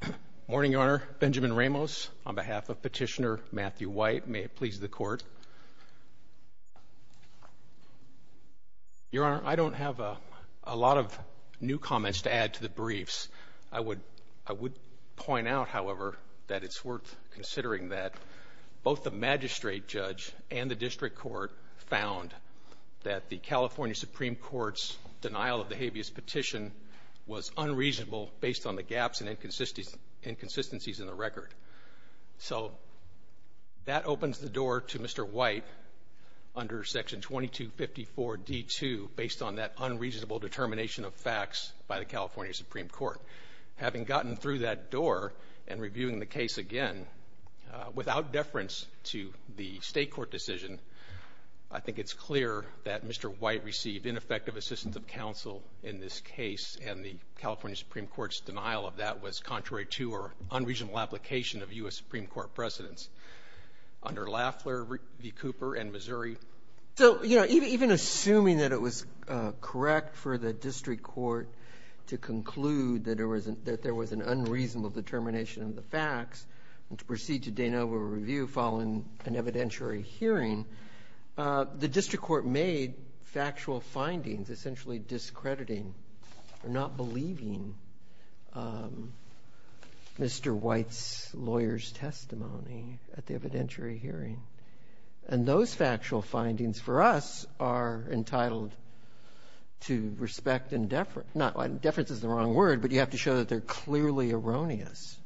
Good morning, Your Honor. Benjamin Ramos on behalf of Petitioner Matthew White. May it please the Court. Your Honor, I don't have a lot of new comments to add to the briefs. I would point out, however, that it's worth considering that both the magistrate judge and the district court found that the California Supreme Court's denial of the habeas petition was unreasonable based on the gaps and inconsistencies in the record. So that opens the door to Mr. White under Section 2254d2 based on that unreasonable determination of facts by the California Supreme Court. Having gotten through that door and reviewing the case again, without deference to the State court decision, I think it's clear that Mr. White received ineffective assistance of counsel in this case, and the California Supreme Court's denial of that was contrary to our unreasonable application of U.S. Supreme Court precedents under Lafler v. Cooper and Missouri. So, you know, even assuming that it was correct for the district court to conclude that there was an unreasonable determination of the facts and to proceed to de novo review following an evidentiary hearing, the district court made factual findings essentially discrediting or not believing Mr. White's lawyer's testimony at the evidentiary hearing. And those factual findings for us are entitled to respect and deference not by deference is the wrong word, but you have to show that they're clearly erroneous.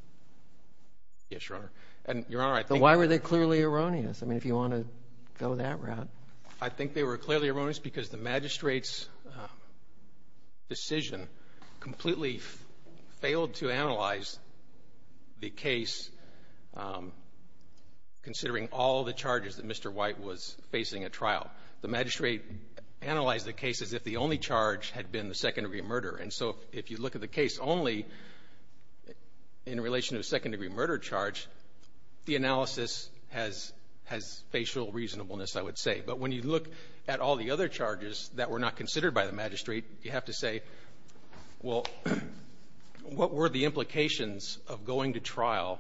Yes, Your Honor. And, Your Honor, I think they were clearly erroneous. I mean, if you want to go that route. I think they were clearly erroneous because the magistrate's decision completely failed to analyze the case considering all the charges that Mr. White was facing at trial. The magistrate analyzed the case as if the only charge had been the second-degree murder. And so if you look at the case only in relation to the second-degree murder charge, the analysis has facial reasonableness, I would say. But when you look at all the other charges that were not considered by the magistrate, you have to say, well, what were the implications of going to trial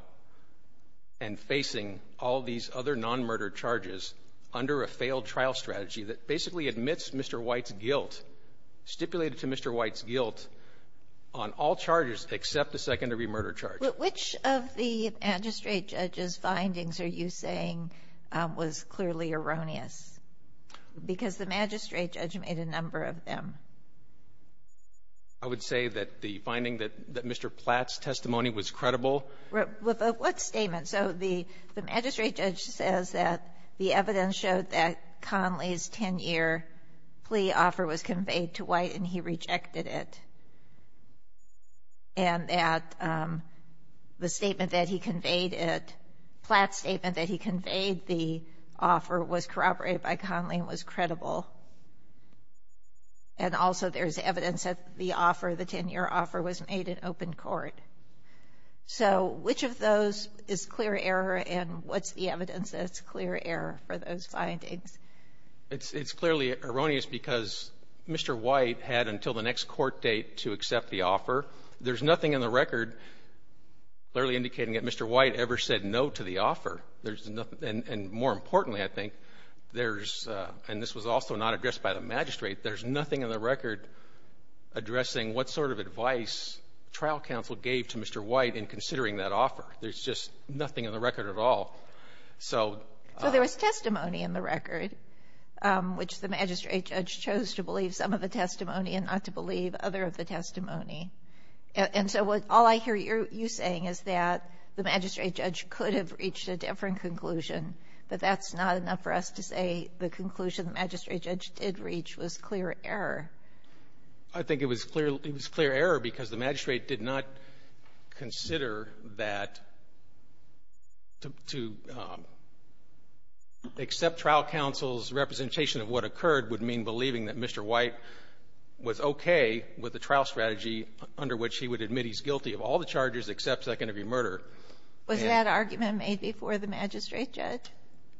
and facing all these other non-murder charges under a failed trial strategy that basically admits Mr. White's guilt, stipulated to Mr. White's guilt on all charges except the second-degree murder charge? Which of the magistrate judge's findings are you saying was clearly erroneous? Because the magistrate judge made a number of them. I would say that the finding that Mr. Platt's testimony was credible. What statement? So the magistrate judge says that the evidence showed that Conley's 10-year plea offer was conveyed to White, and he rejected it. And that the statement that he conveyed it, Platt's statement that he conveyed the offer was corroborated by Conley and was credible. And also there's evidence that the offer, the 10-year offer, was made in open court. So which of those is clear error, and what's the evidence that it's clear error for those findings? It's clearly erroneous because Mr. White had until the next court date to accept the offer. There's nothing in the record clearly indicating that Mr. White ever said no to the offer. There's nothing — and more importantly, I think, there's — and this was also not addressed by the magistrate. There's nothing in the record addressing what sort of advice trial counsel gave to Mr. White in considering that offer. There's just nothing in the record at all. So — So there was testimony in the record, which the magistrate judge chose to believe some of the testimony and not to believe other of the testimony. And so what — all I hear you saying is that the magistrate judge could have reached a different conclusion, but that's not enough for us to say the conclusion the magistrate judge did reach was clear error. I think it was clear — it was clear error because the magistrate did not consider that to accept trial counsel's representation of what occurred would mean believing that Mr. White was okay with the trial strategy under which he would admit he's guilty of all the charges except second-degree murder. Was that argument made before the magistrate judge?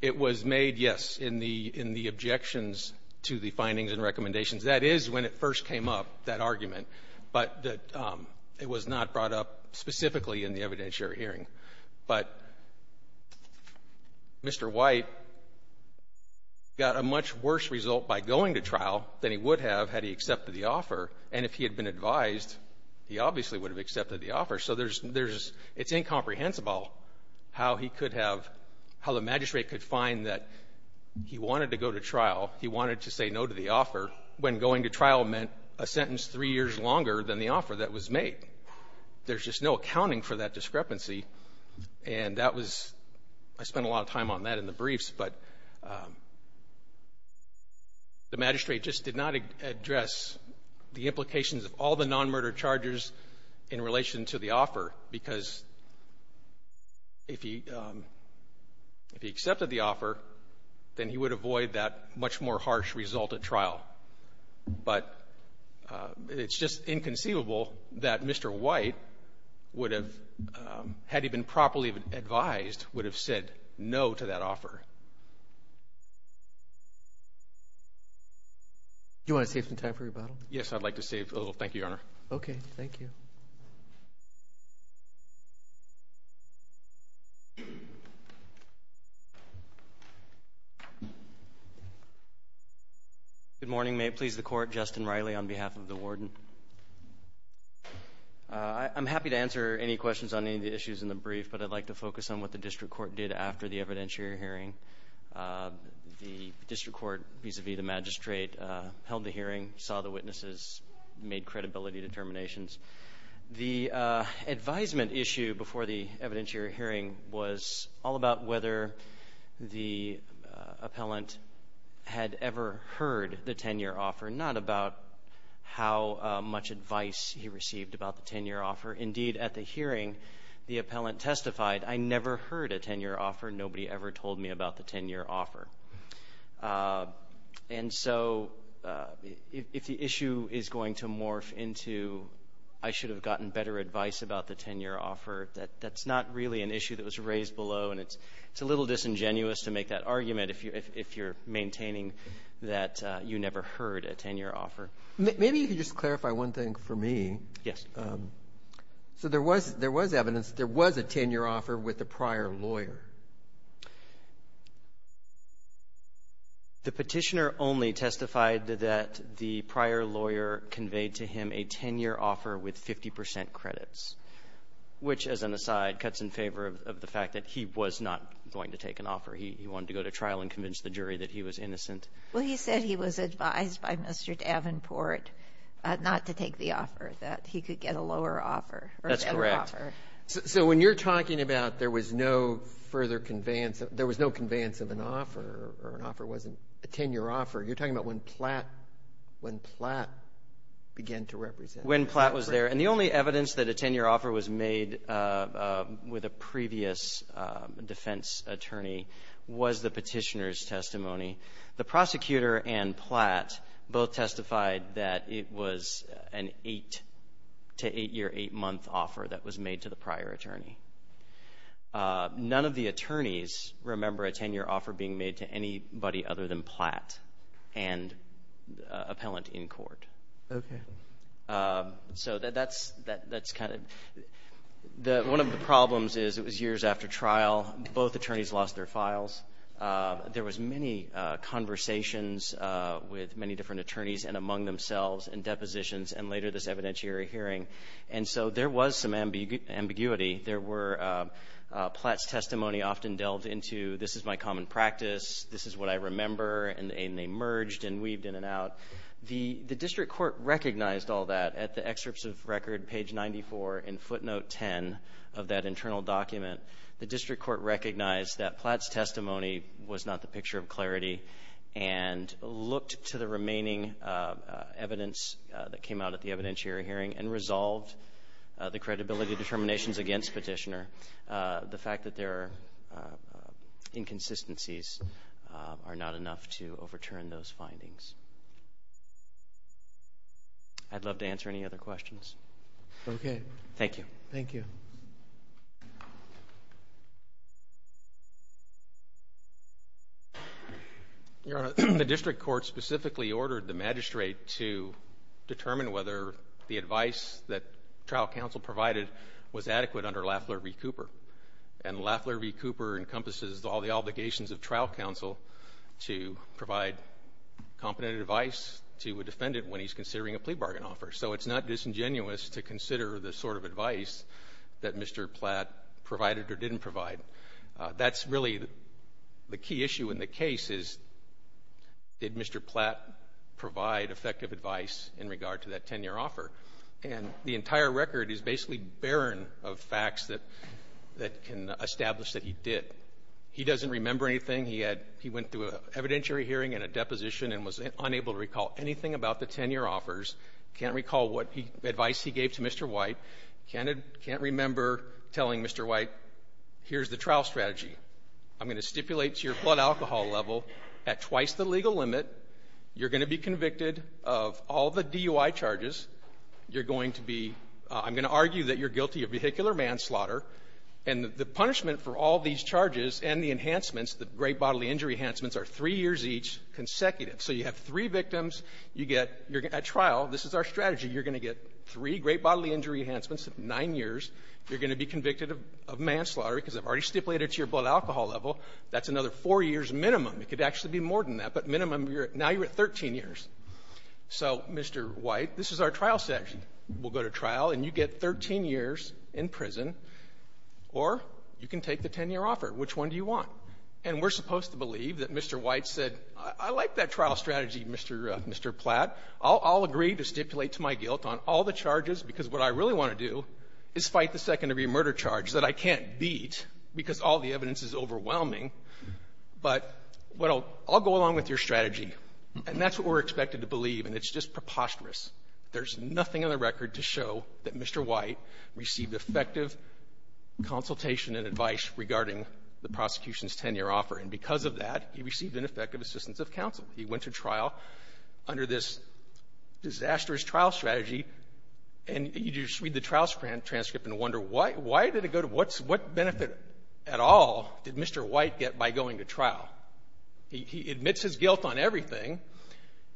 It was made, yes, in the — in the objections to the findings and recommendations. That is when it first came up, that argument. But it was not brought up specifically in the evidentiary hearing. But Mr. White got a much worse result by going to trial than he would have had he accepted the offer. And if he had been advised, he obviously would have accepted the offer. So there's — there's — it's incomprehensible how he could have — how the magistrate could find that he wanted to go to trial, he wanted to say no to the offer, when going to trial meant a sentence three years longer than the offer that was made. There's just no accounting for that discrepancy. And that was — I spent a lot of time on that in the briefs. But the magistrate just did not address the implications of all the nonmurder charges in relation to the offer, because if he — if he accepted the offer, then he would avoid that much more harsh result at trial. But it's just inconceivable that Mr. White would have — had he been properly advised, would have said no to that offer. Do you want to save some time for rebuttal? Yes, I'd like to save a little. Thank you, Your Honor. Okay. Thank you. Good morning. May it please the Court, Justin Riley on behalf of the warden. I'm happy to answer any questions on any of the issues in the brief, but I'd like to focus on what the district court did after the evidentiary hearing. The district court, vis-a-vis the magistrate, held the hearing, saw the witnesses, made credibility determinations. The advisement issue before the evidentiary hearing was all about whether the appellant had ever heard the 10-year offer, not about how much advice he received about the 10-year offer. Indeed, at the hearing, the appellant testified, I never heard a 10-year offer. Nobody ever told me about the 10-year offer. And so if the issue is going to morph into I should have gotten better advice about the 10-year offer, that's not really an issue that was raised below, and it's a little disingenuous to make that argument if you're maintaining that you never heard a 10-year offer. Maybe you could just clarify one thing for me. Yes. So there was evidence. There was a 10-year offer with a prior lawyer. The Petitioner only testified that the prior lawyer conveyed to him a 10-year offer with 50 percent credits, which, as an aside, cuts in favor of the fact that he was not going to take an offer. He wanted to go to trial and convince the jury that he was innocent. Well, he said he was advised by Mr. Davenport not to take the offer, that he could get a lower offer or a better offer. That's correct. So when you're talking about there was no further conveyance, there was no conveyance of an offer or an offer wasn't a 10-year offer, you're talking about when Platt began to represent. When Platt was there. And the only evidence that a 10-year offer was made with a previous defense attorney was the Petitioner's testimony. The prosecutor and Platt both testified that it was an eight to eight-year, eight-month offer that was made to the prior attorney. None of the attorneys remember a 10-year offer being made to anybody other than Platt and an appellant in court. Okay. So that's kind of the one of the problems is it was years after trial. Both attorneys lost their files. There was many conversations with many different attorneys and among themselves and depositions and later this evidentiary hearing. And so there was some ambiguity. There were Platt's testimony often delved into this is my common practice. This is what I remember. And they merged and weaved in and out. The district court recognized all that at the excerpts of record page 94 in footnote 10 of that internal document. The district court recognized that Platt's testimony was not the picture of clarity and looked to the remaining evidence that came out at the evidentiary hearing and resolved the credibility determinations against Petitioner. The fact that there are inconsistencies are not enough to overturn those findings. I'd love to answer any other questions. Okay. Thank you. Thank you. Your Honor, the district court specifically ordered the magistrate to determine whether the advice that trial counsel provided was adequate under Lafleur v. Cooper. And Lafleur v. Cooper encompasses all the obligations of trial counsel to provide competent advice to a defendant when he's considering a plea bargain offer. So it's not disingenuous to consider the sort of advice that Mr. Platt provided or didn't provide. That's really the key issue in the case is did Mr. Platt provide effective advice in regard to that 10-year offer. And the entire record is basically barren of facts that can establish that he did. He doesn't remember anything. He went through an evidentiary hearing and a deposition and was unable to recall anything about the 10-year offers. Can't recall what advice he gave to Mr. White. Can't remember telling Mr. White, here's the trial strategy. I'm going to stipulate to your blood alcohol level at twice the legal limit. You're going to be convicted of all the DUI charges. You're going to be – I'm going to argue that you're guilty of vehicular manslaughter. And the punishment for all these charges and the enhancements, the great bodily injury enhancements, are three years each consecutive. So you have three victims. You get – at trial, this is our strategy. You're going to get three great bodily injury enhancements of nine years. You're going to be convicted of manslaughter because I've already stipulated it to your blood alcohol level. That's another four years minimum. It could actually be more than that. But minimum, you're – now you're at 13 years. So, Mr. White, this is our trial strategy. We'll go to trial, and you get 13 years in prison, or you can take the 10-year offer. Which one do you want? And we're supposed to believe that Mr. White said, I like that trial strategy, Mr. Platt. I'll agree to stipulate to my guilt on all the charges because what I really want to do is fight the second-degree murder charge that I can't beat because all the evidence is overwhelming. But what I'll – I'll go along with your strategy. And that's what we're expected to believe. And it's just preposterous. There's nothing on the record to show that Mr. White received effective consultation and advice regarding the prosecution's 10-year offer. And because of that, he received ineffective assistance of counsel. He went to trial under this disastrous trial strategy, and you just read the trial transcript and wonder, why did it go to – what's – what benefit at all did Mr. White get by going to trial? He admits his guilt on everything.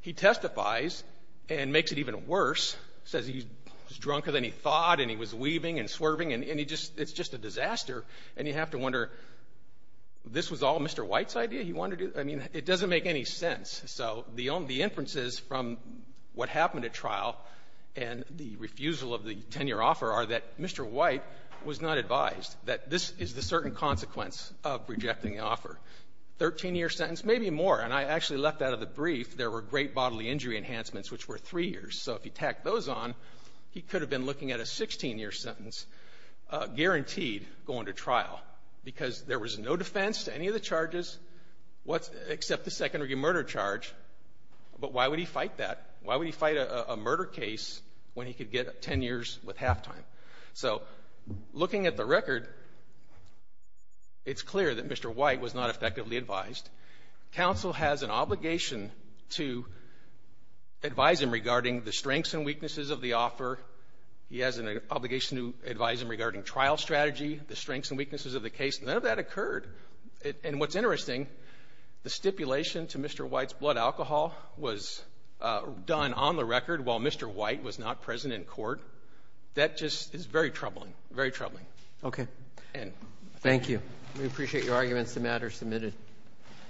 He testifies and makes it even worse, says he was drunker than he thought and he was weaving and swerving, and he just – it's just a disaster. And you have to wonder, this was all Mr. White's idea? He wanted to – I mean, it doesn't make any sense. So the – the inferences from what happened at trial and the refusal of the 10-year offer are that Mr. White was not advised, that this is the certain consequence of rejecting the offer. Thirteen-year sentence, maybe more. And I actually left out of the brief, there were great bodily injury enhancements, which were three years. So if you tack those on, he could have been looking at a 16-year sentence, guaranteed going to trial, because there was no defense to any of the charges, what's – except the second-degree murder charge. But why would he fight that? Why would he fight a murder case when he could get 10 years with halftime? So looking at the record, it's clear that Mr. White was not effectively advised. Counsel has an obligation to advise him regarding the strengths and weaknesses of the offer. He has an obligation to advise him regarding trial strategy, the strengths and weaknesses of the case. None of that occurred. And what's interesting, the stipulation to Mr. White's blood alcohol was done on the record while Mr. White was not present in court. That just is very troubling. Very troubling. Okay. Thank you. We appreciate your arguments. The matter is submitted.